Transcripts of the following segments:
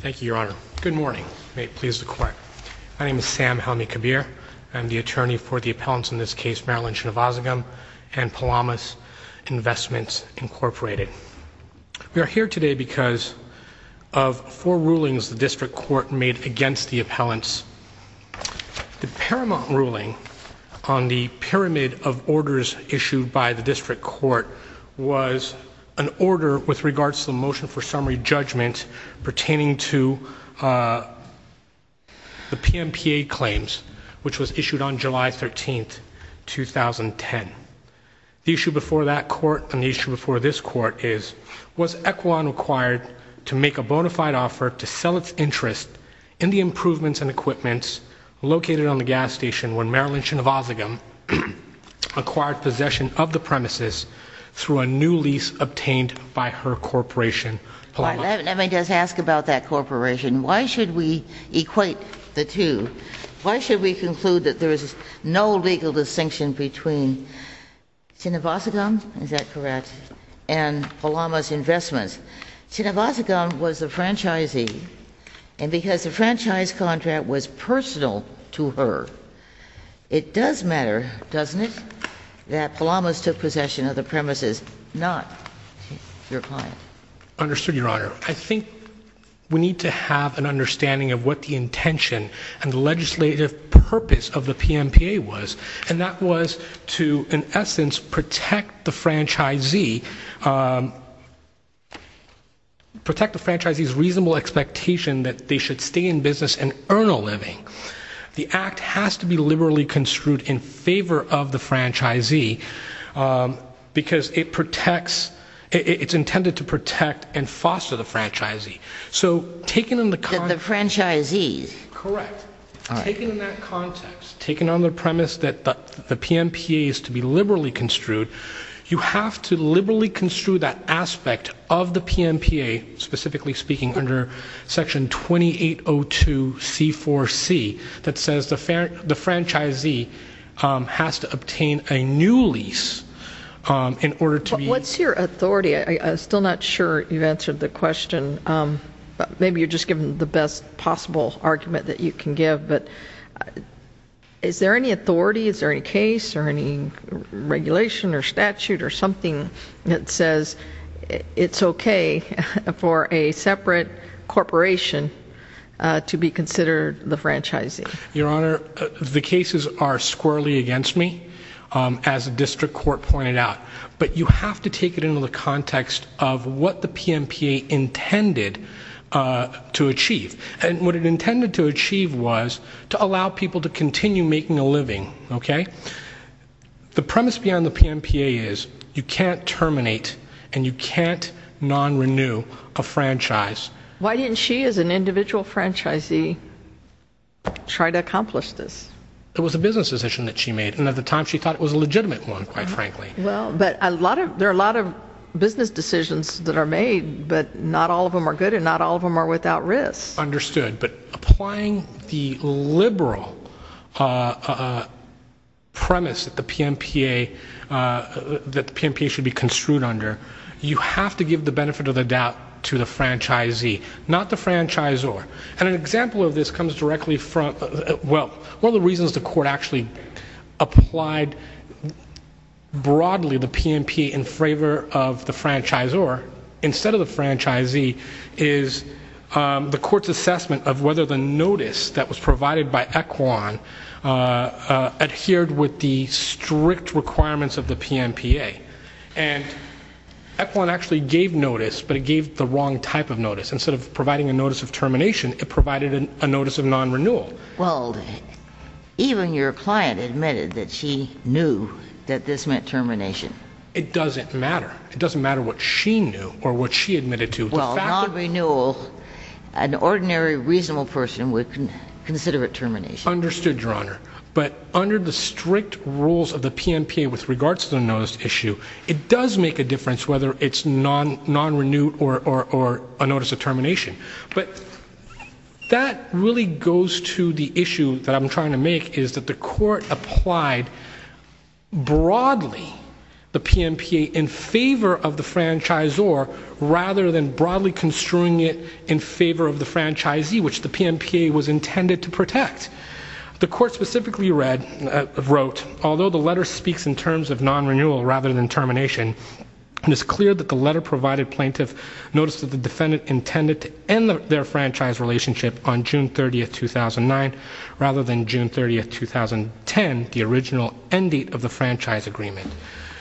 Thank you, Your Honor. Good morning. May it please the Court. My name is Sam Helmy-Kabir. I'm the attorney for the appellants in this case, Marilyn Chinivasagam and Palamas Investments Incorporated. We are here today because of four rulings the District Court made against the appellants. The Paramount ruling on the pyramid of orders issued by the District Court was an order with regards to the motion for summary judgment pertaining to the PMPA claims, which was issued on July 13th, 2010. The issue before that Court and the issue before this Court is, was Equilon required to make a bona fide offer to sell its interest in the improvements and equipments located on the gas station when Marilyn Chinivasagam acquired possession of the premises through a new lease obtained by her corporation, Palamas. Let me just ask about that corporation. Why should we equate the two? Why should we conclude that there is no legal distinction between Chinivasagam, is that correct, and Palamas Investments? Chinivasagam was the franchisee, and because the franchise contract was personal to her, it does matter, doesn't it, that Palamas took possession of the premises, not your client. Understood, Your Honor. I think we need to have an understanding of what the intention and the legislative purpose of the PMPA was, and that was to, in essence, protect the franchisee, protect the franchisee's reasonable expectation that they should stay in business and earn a living. The act has to be liberally construed in favor of the franchisee because it protects, it's intended to protect and foster the franchisee. So, taken in the context, the franchisee's, correct, taken in that context, taken on the premise that the PMPA is to be liberally construed, you have to liberally construe that aspect of the PMPA, specifically speaking, under Section 2802 C4C that says the franchisee has to obtain a new lease in order to be... What's your authority? I'm still not sure you've answered the question. Maybe you're just giving the best possible argument that you can give, but is there any authority, is there any case or any regulation or statute or something that says it's okay for a separate corporation to be considered the franchisee? Your Honor, the cases are squarely against me as a district court pointed out, but you have to take it into the context of what the PMPA intended to achieve, and what it intended to achieve was to allow people to continue making a living, okay? The premise beyond the PMPA is you can't terminate and you can't non-renew a franchise. Why didn't she, as an individual franchisee, try to accomplish this? It was a business decision that she made, and at the time she thought it was a legitimate one, quite frankly. Well, but a lot of, there are a lot of business decisions that are made, but not all of them are good and not all of them are without risk. Understood, but applying the liberal premise that the PMPA, that the PMPA should be construed under, you have to give the benefit of the doubt to the court, and one of the reasons the court actually applied broadly the PMPA in favor of the franchisor instead of the franchisee is the court's assessment of whether the notice that was provided by Equan adhered with the strict requirements of the PMPA, and Equan actually gave notice, but it gave the wrong type of notice. Instead of providing a notice of termination, it provided a notice of non-renewal. Well, even your client admitted that she knew that this meant termination. It doesn't matter. It doesn't matter what she knew or what she admitted to. Well, non-renewal, an ordinary reasonable person would consider it termination. Understood, Your Honor, but under the strict rules of the PMPA with regards to the notice issue, it does make a difference whether it's non-renewed or a notice of termination, but that really goes to the issue that I'm trying to make is that the court applied broadly the PMPA in favor of the franchisor rather than broadly construing it in favor of the franchisee, which the PMPA was intended to protect. The court specifically read, wrote, although the letter speaks in terms of non-renewal rather than termination, it is clear that the letter provided notice that the defendant intended to end their franchise relationship on June 30th, 2009 rather than June 30th, 2010, the original end date of the franchise agreement.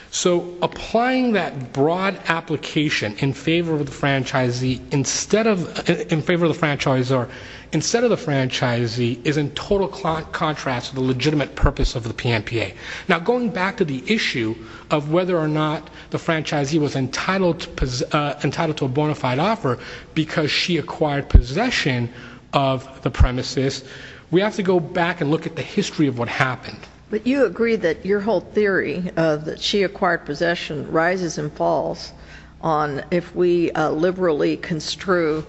So applying that broad application in favor of the franchisee instead of, in favor of the franchisor instead of the franchisee is in total contrast to the legitimate purpose of the PMPA. Now going back to the issue of whether or not the franchisee was entitled to a bona fide offer because she acquired possession of the premises, we have to go back and look at the history of what happened. But you agree that your whole theory of that she acquired possession rises and falls on if we liberally construe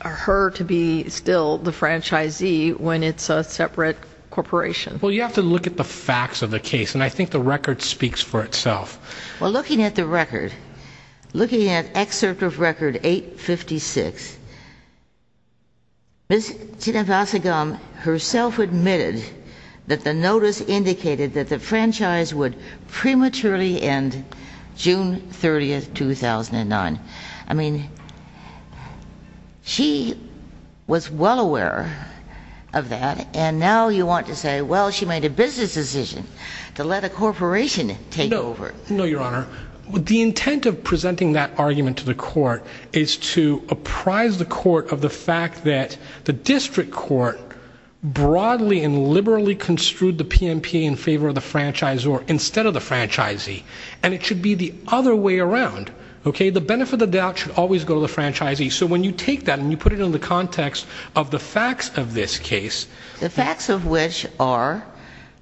her to be still the franchisee when it's a separate corporation. Well, you have to look at the facts of the case and I think the record speaks for itself. Well, looking at the record, looking at excerpt of record 856, Ms. Chinavasagam herself admitted that the notice indicated that the franchise would prematurely end June 30th, 2009. I mean, she was well aware of that and now you want to say, well, she made a business decision to let a corporation take over. No, Your Honor. The intent of presenting that argument to the court is to apprise the court of the fact that the district court broadly and liberally construed the PMP in favor of the franchisor instead of the franchisee. And it should be the other way around, okay? The benefit of the doubt should always go to the franchisee. So when you take that and you put it in the context of the facts of this case. The facts of which are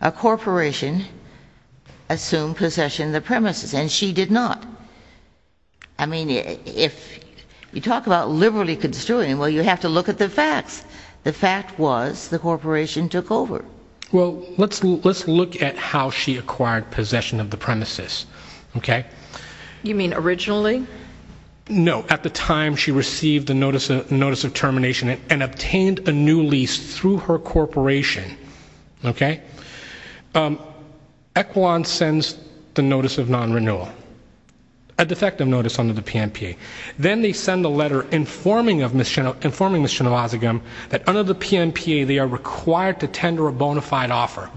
a corporation assumed possession of the premises and she did not. I mean, if you talk about liberally construing, well, you have to look at the facts. The fact was the corporation took over. Well, let's look at how she acquired possession of the premises, okay? You mean originally? No, at the time she received the notice of termination and obtained a new lease through her corporation, okay? Equilon sends the notice of non-renewal, a defective notice under the PMP. Then they send a letter informing Ms. Chenowazigam that under the PMP, they are required to tender a bona fide offer,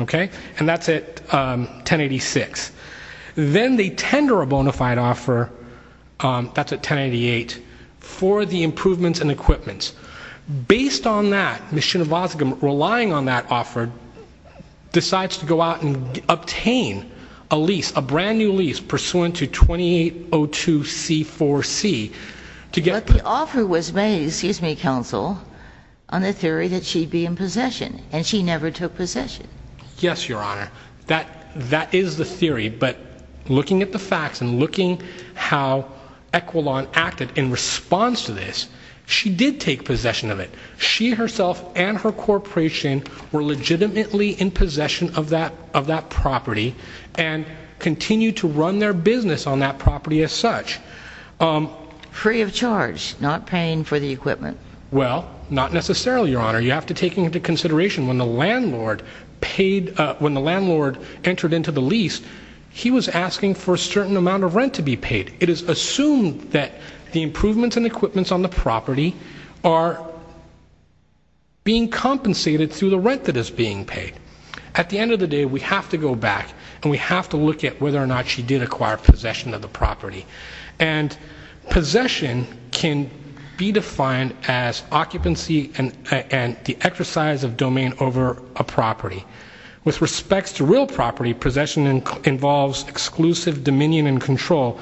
okay? And that's at 1086. Then they tender a bona fide offer, that's at 1088, for the improvements and equipments. Based on that, Ms. Chenowazigam, relying on that offer, decides to go out and obtain a lease, a brand new lease pursuant to 2802C4C to get- The offer was made, excuse me, Counsel, on the theory that she'd be in possession, and she never took possession. Yes, Your Honor. That is the theory, but looking at the facts and looking how Equilon acted in response to this, she did take possession of it. She herself and her corporation were legitimately in possession of that property and continued to run their business on that property as such. Free of charge, not paying for the equipment. Well, not necessarily, Your Honor. You have to take into consideration when the landlord paid, when the landlord entered into the lease, he was asking for a certain amount of rent to be paid. It is assumed that the improvements and equipments on the property are being compensated through the rent that is being paid. At the end of the day, we have to go back and we have to look at whether or not she did acquire possession of the property. Possession can be defined as occupancy and the exercise of domain over a property. With respects to real property, possession involves exclusive dominion and control,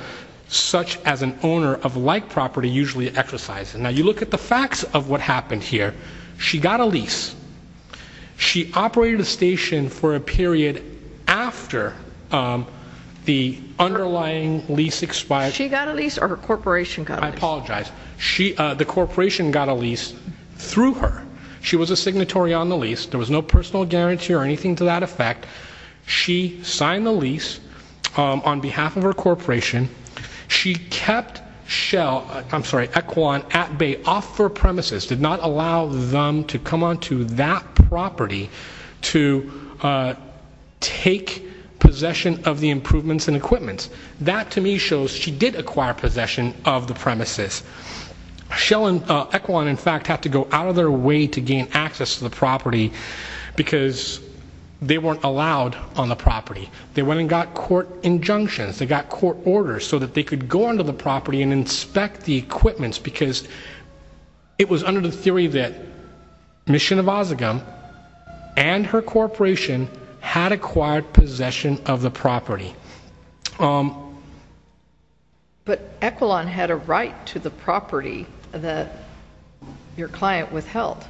such as an owner of like property usually exercises. Now, you look at the facts of what happened here. She got a lease. She operated a station for a period after the underlying lease expired. She got a lease or her corporation got a lease? I apologize. The corporation got a lease through her. She was a signatory on the lease. There was no personal guarantee or anything to that effect. She signed the lease on behalf of her corporation. She kept Shell, I'm sorry, Equin at bay off her premises, did not allow them to come onto that property to take possession of the improvements and equipments. That to me shows she did acquire possession of the premises. Shell and Equin, in fact, had to go out of their way to gain access to the property because they weren't allowed on the property. They went and got court injunctions. They got court orders so that they could go onto the property and inspect the equipments because it was under the theory that Mission of Osagam and her corporation had acquired possession of the property. But Equin had a right to the property that your client withheld.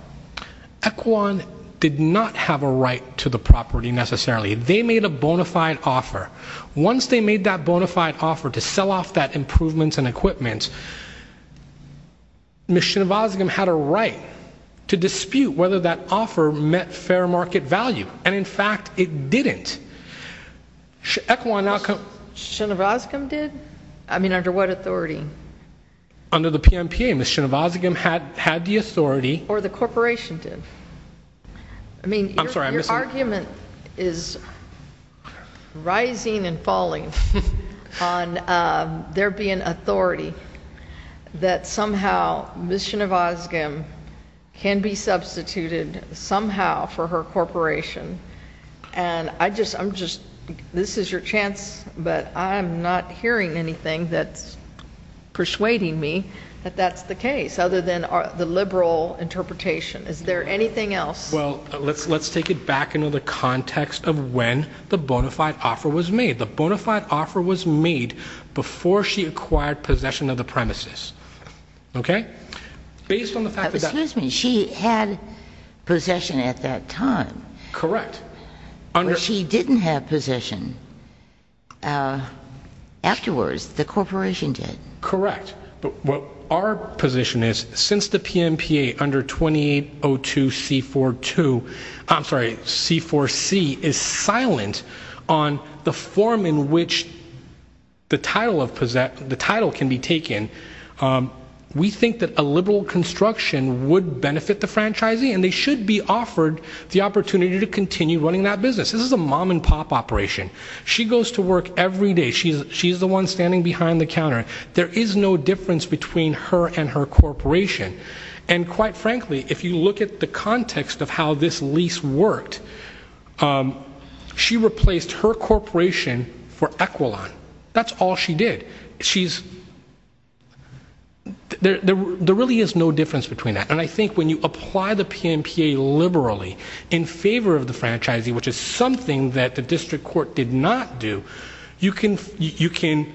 Equin did not have a right to the property necessarily. They made a bona fide offer. Once they made that bona fide offer to sell off that improvements and equipments, Mission of Osagam had a right to dispute whether that offer met fair market value. And in fact, it didn't. Equin now- Mission of Osagam did? I mean, under what authority? Under the PMPA. Mission of Osagam had the authority- Or the corporation did. I mean, your argument is rising and falling on there being authority that somehow Mission of Osagam can be substituted somehow for her corporation. And I just, I'm just, this is your chance, but I'm not hearing anything that's persuading me that that's the case, other than the liberal interpretation. Is there anything else? Well, let's take it back into the context of when the bona fide offer was made. The bona fide offer was made before she acquired possession of the premises. Okay? Based on the fact that- Excuse me, she had possession at that time. Correct. But she didn't have possession. Afterwards, the corporation did. Correct. But our position is, since the PMPA under 2802C42, I'm sorry, C4C, is silent on the form in which the title can be taken, we think that a liberal construction would benefit the franchisee, and they should be offered the opportunity to continue running that business. This is a mom and pop operation. She goes to work every day. She's the one standing behind the counter. There is no difference between her and her corporation. And quite frankly, if you look at the context of how this lease worked, she replaced her corporation for Equilon. That's all she did. She's, there really is no difference between that. And I think when you apply the PMPA liberally in favor of the franchisee, which is something that the district court did not do, you can, you can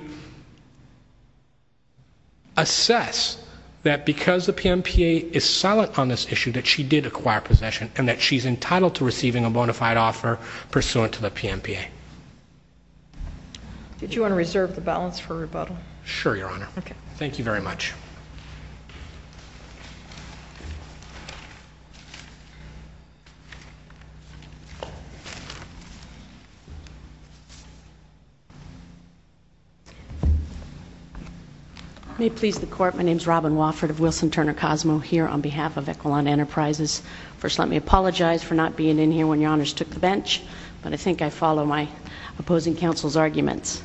assess that because the PMPA is silent on this issue, that she did acquire possession, and that she's entitled to receiving a bona fide offer pursuant to the PMPA. Did you want to reserve the balance for rebuttal? Sure, Your Honor. Okay. Thank you very much. I may please the court. My name is Robin Wofford of Wilson Turner Cosmo here on behalf of Equilon Enterprises. First, let me apologize for not being in here when Your Honors took the bench, but I think I follow my opposing counsel's arguments.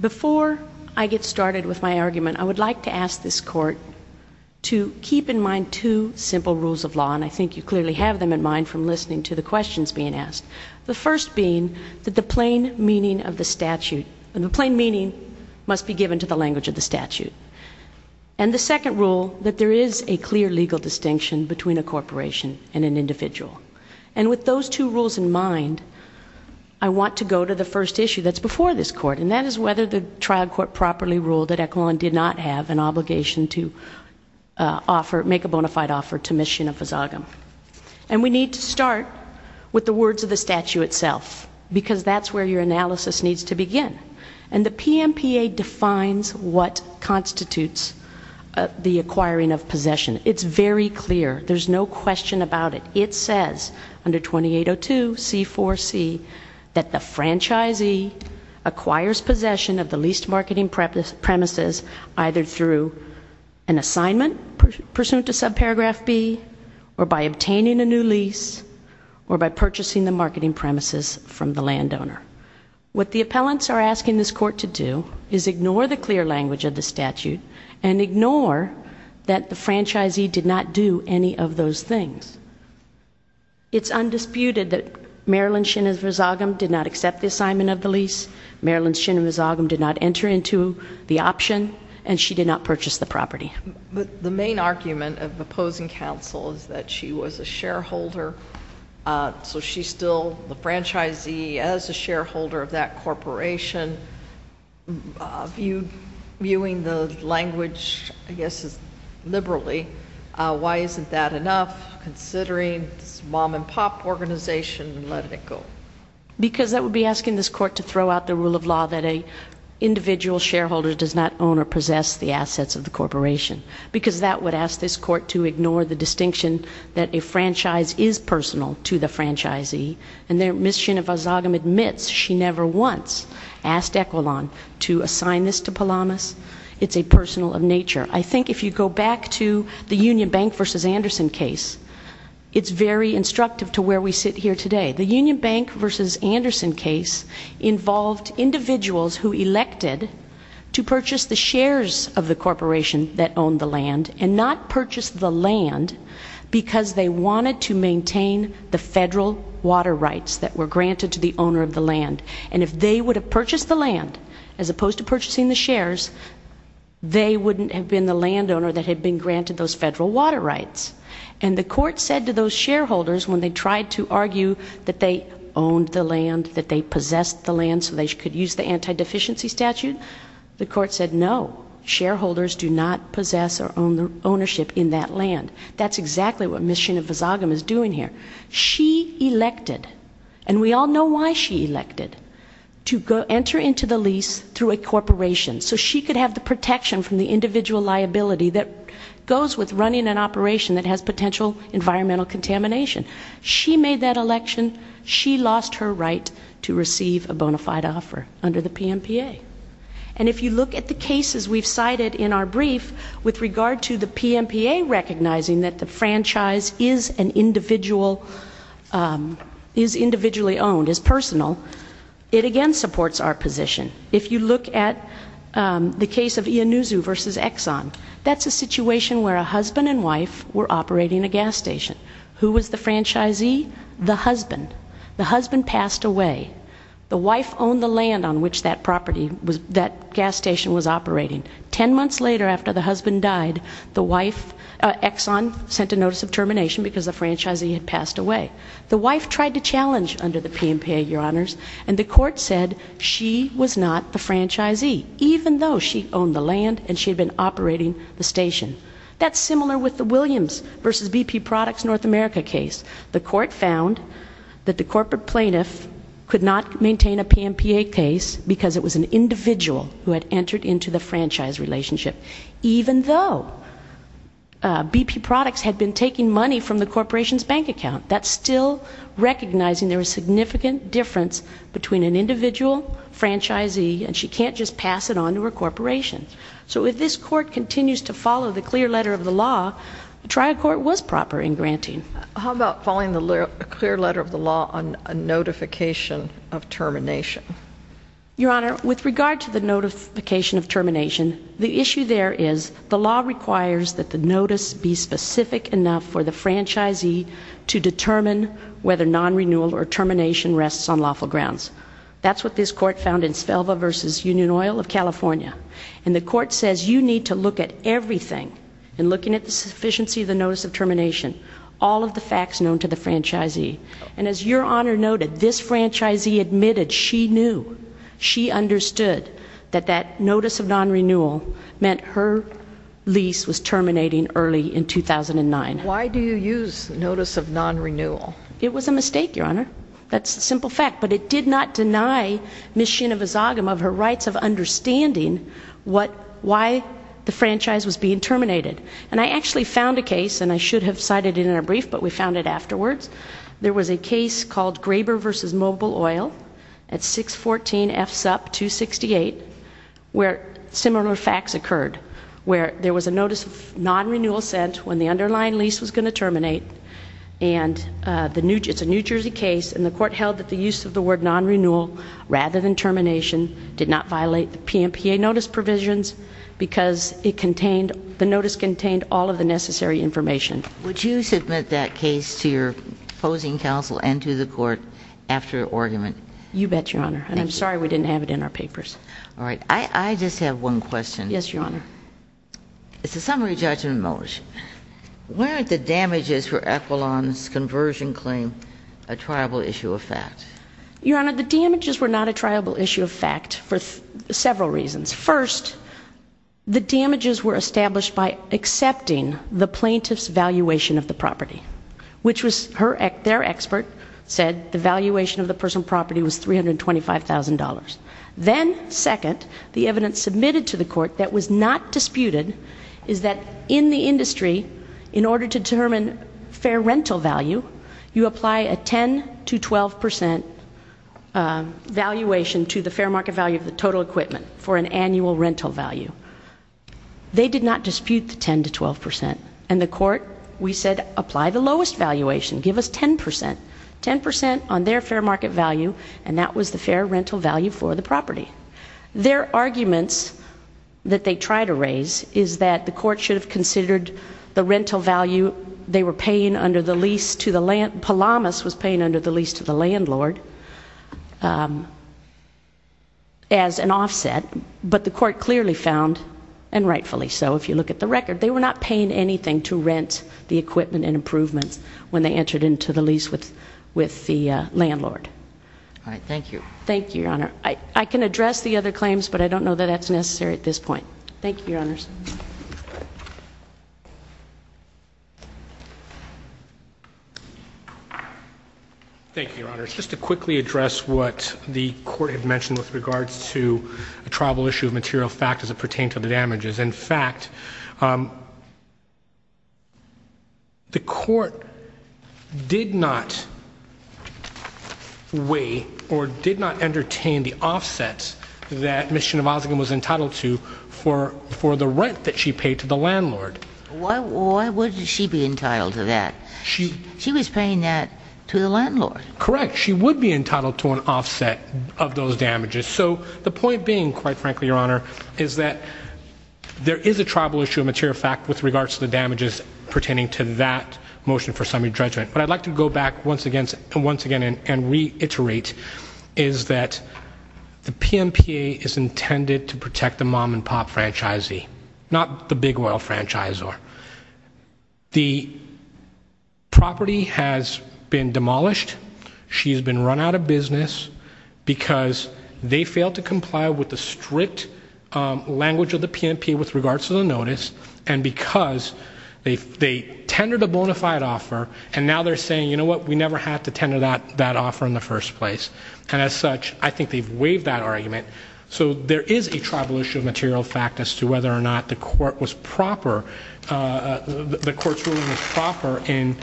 Before I get started with my argument, I would like to ask this court to keep in mind two simple rules of law, and I think you clearly have them in mind from listening to the questions being asked. The first being that the plain meaning of the statute, the plain meaning must be given to the language of the statute. And the second rule, that there is a clear legal distinction between a corporation and an individual. And with those two rules in mind, I want to go to the first issue that's before this court, and that is whether the trial court properly ruled that Equilon did not have an obligation to offer, make a bona fide offer to Ms. Shina Fazagham. And we need to start with the words of the statute itself, because that's where your analysis needs to begin. And the PMPA defines what constitutes the acquiring of possession. It's very clear. There's no question about it. It says under 2802 C4C that the franchisee acquires possession of the leased marketing premises either through an assignment pursuant to subparagraph B, or by obtaining a new lease, or by purchasing the marketing premises from the landowner. What the appellants are asking this court to do is ignore the clear language of the statute and ignore that the franchisee did not do any of those things. It's undisputed that Marilyn Shina Fazagham did not accept the assignment of the lease. Marilyn Shina Fazagham did not enter into the option, and she did not purchase the property. But the main argument of opposing counsel is that she was a shareholder so she's still the franchisee as a shareholder of that corporation. Viewing the language, I guess, liberally, why isn't that enough considering this mom and pop organization and letting it go? Because that would be asking this court to throw out the rule of law that an individual shareholder does not own or possess the assets of the corporation, because that would ask this court to ignore the distinction that a franchise is personal to the franchisee. And Ms. Shina Fazagham admits she never once asked Equilon to assign this to Palamas. It's a personal of nature. I think if you go back to the Union Bank v. Anderson case, it's very instructive to where we sit here today. The Union Bank v. Anderson case involved individuals who elected to purchase the shares of the corporation that owned the land and not purchase the land because they wanted to maintain the federal water rights that were granted to the owner of the land. And if they would have purchased the land, as opposed to purchasing the shares, they wouldn't have been the landowner that had been granted those federal water rights. And the court said to those shareholders, when they tried to argue that they owned the land, that they possessed the land so they could use the anti-deficiency statute, the court said no, shareholders do not possess or own ownership in that land. That's exactly what Ms. Shina Fazagham is doing here. She elected, and we all know why she elected, to enter into the lease through a corporation so she could have the protection from the individual liability that goes with running an operation that has potential environmental contamination. She made that election. She lost her right to receive a bona fide offer under the PMPA. And if you look at the cases we've cited in our brief with regard to the PMPA recognizing that the franchise is an individual, is individually owned, is personal, it again supports our position. If you look at the case of Iannuzo v. Exxon, that's a situation where a husband and wife were operating a gas station. Who was the franchisee? The husband. The husband passed away. The wife owned the land on which that property, that gas station was operating. Ten months later after the husband died, the wife, Exxon, sent a notice of termination because the franchisee had passed away. The wife tried to challenge under the PMPA, your honors, and the court said she was not the franchisee, even though she owned the land and she had been operating the station. That's similar with the Williams v. BP Products North America case. The court found that the corporate plaintiff could not maintain a PMPA case because it was an individual who had entered into the franchise relationship, even though BP Products had been taking money from the corporation's bank account. That's still recognizing there was significant difference between an individual franchisee and she can't just pass it on to her corporation. So if this court continues to follow the clear letter of the law, the trial court was proper in granting. How about following the clear letter of the law on a notification of termination? Your honor, with regard to the notification of termination, the issue there is the law requires that the notice be specific enough for the franchisee to determine whether non-renewal or termination rests on lawful grounds. That's what this court found in Svelva v. Union Oil of California. And the court says you need to look at everything in looking at the sufficiency of the notice of termination, all of the facts known to the franchisee. And as your honor noted, this franchisee admitted she knew, she understood that that notice of non-renewal meant her lease was terminating early in 2009. Why do you use notice of non-renewal? It was a mistake, your honor. That's a simple fact. But it did not deny Ms. Shinova Zagim of her rights of understanding what, why the franchise was being terminated. And I actually found a case, and I should have cited it in our brief, but we found it afterwards. There was a case called Graber v. Mobile Oil at 614 F Supp 268, where similar facts occurred. Where there was a notice of non-renewal sent when the underlying lease was going to terminate. And it's a New Jersey case, and the court held that the use of the word non-renewal rather than termination did not violate the PMPA notice provisions because it contained, the notice contained all of the necessary information. Would you submit that case to your opposing counsel and to the court after argument? You bet, your honor. And I'm sorry we didn't have it in our papers. All right, I just have one question. Yes, your honor. It's a summary judgment motion. Weren't the damages for Equilon's conversion claim a triable issue of fact? Your honor, the damages were not a triable issue of fact for several reasons. First, the damages were established by accepting the plaintiff's valuation of the property, which was her, their expert said the valuation of the personal property was $325,000. Then, second, the evidence submitted to the court that was not disputed is that in the industry, in order to determine fair rental value, you apply a 10 to 12 percent valuation to the fair market value of the total equipment for an annual rental value. They did not dispute the 10 to 12 percent, and the court, we said, apply the lowest valuation, give us 10 percent, 10 percent on their fair market value, and that was the fair rental value for the property. Their arguments that they try to raise is that the court should have considered the rental value they were paying under the lease to the, Palamas was paying under the lease to the landlord as an offset, but the court clearly found, and rightfully so, if you look at the record, they were not paying anything to rent the equipment and improvements when they entered into the lease with the landlord. All right, thank you. Thank you, Your Honor. I can address the other claims, but I don't know that that's necessary at this point. Thank you, Your Honors. Thank you, Your Honors. Just to quickly address what the court had mentioned with regards to a tribal issue of material factors that pertain to the damages. In fact, um, the court did not weigh or did not entertain the offsets that Ms. Chinivasigan was entitled to for the rent that she paid to the landlord. Why would she be entitled to that? She was paying that to the landlord. Correct. She would be entitled to an offset of those damages. So the point being, quite frankly, Your Honor, is that there is a tribal issue of material fact with regards to the damages pertaining to that motion for summary judgment. What I'd like to go back once again and reiterate is that the PMPA is intended to protect the mom-and-pop franchisee, not the big oil franchisor. The property has been demolished. She's been run out of business because they failed to restrict language of the PMP with regards to the notice and because they tendered a bona fide offer and now they're saying, you know what, we never had to tender that offer in the first place. And as such, I think they've waived that argument. So there is a tribal issue of material fact as to whether or not the court was proper, the court's ruling was proper in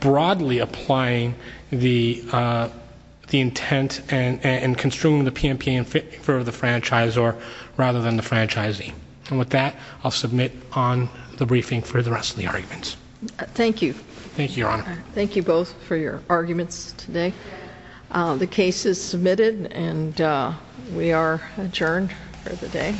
broadly applying the intent and construing the PMPA for the franchisor rather than the franchisee. And with that, I'll submit on the briefing for the rest of the arguments. Thank you. Thank you, Your Honor. Thank you both for your arguments today. The case is submitted and we are adjourned for the day.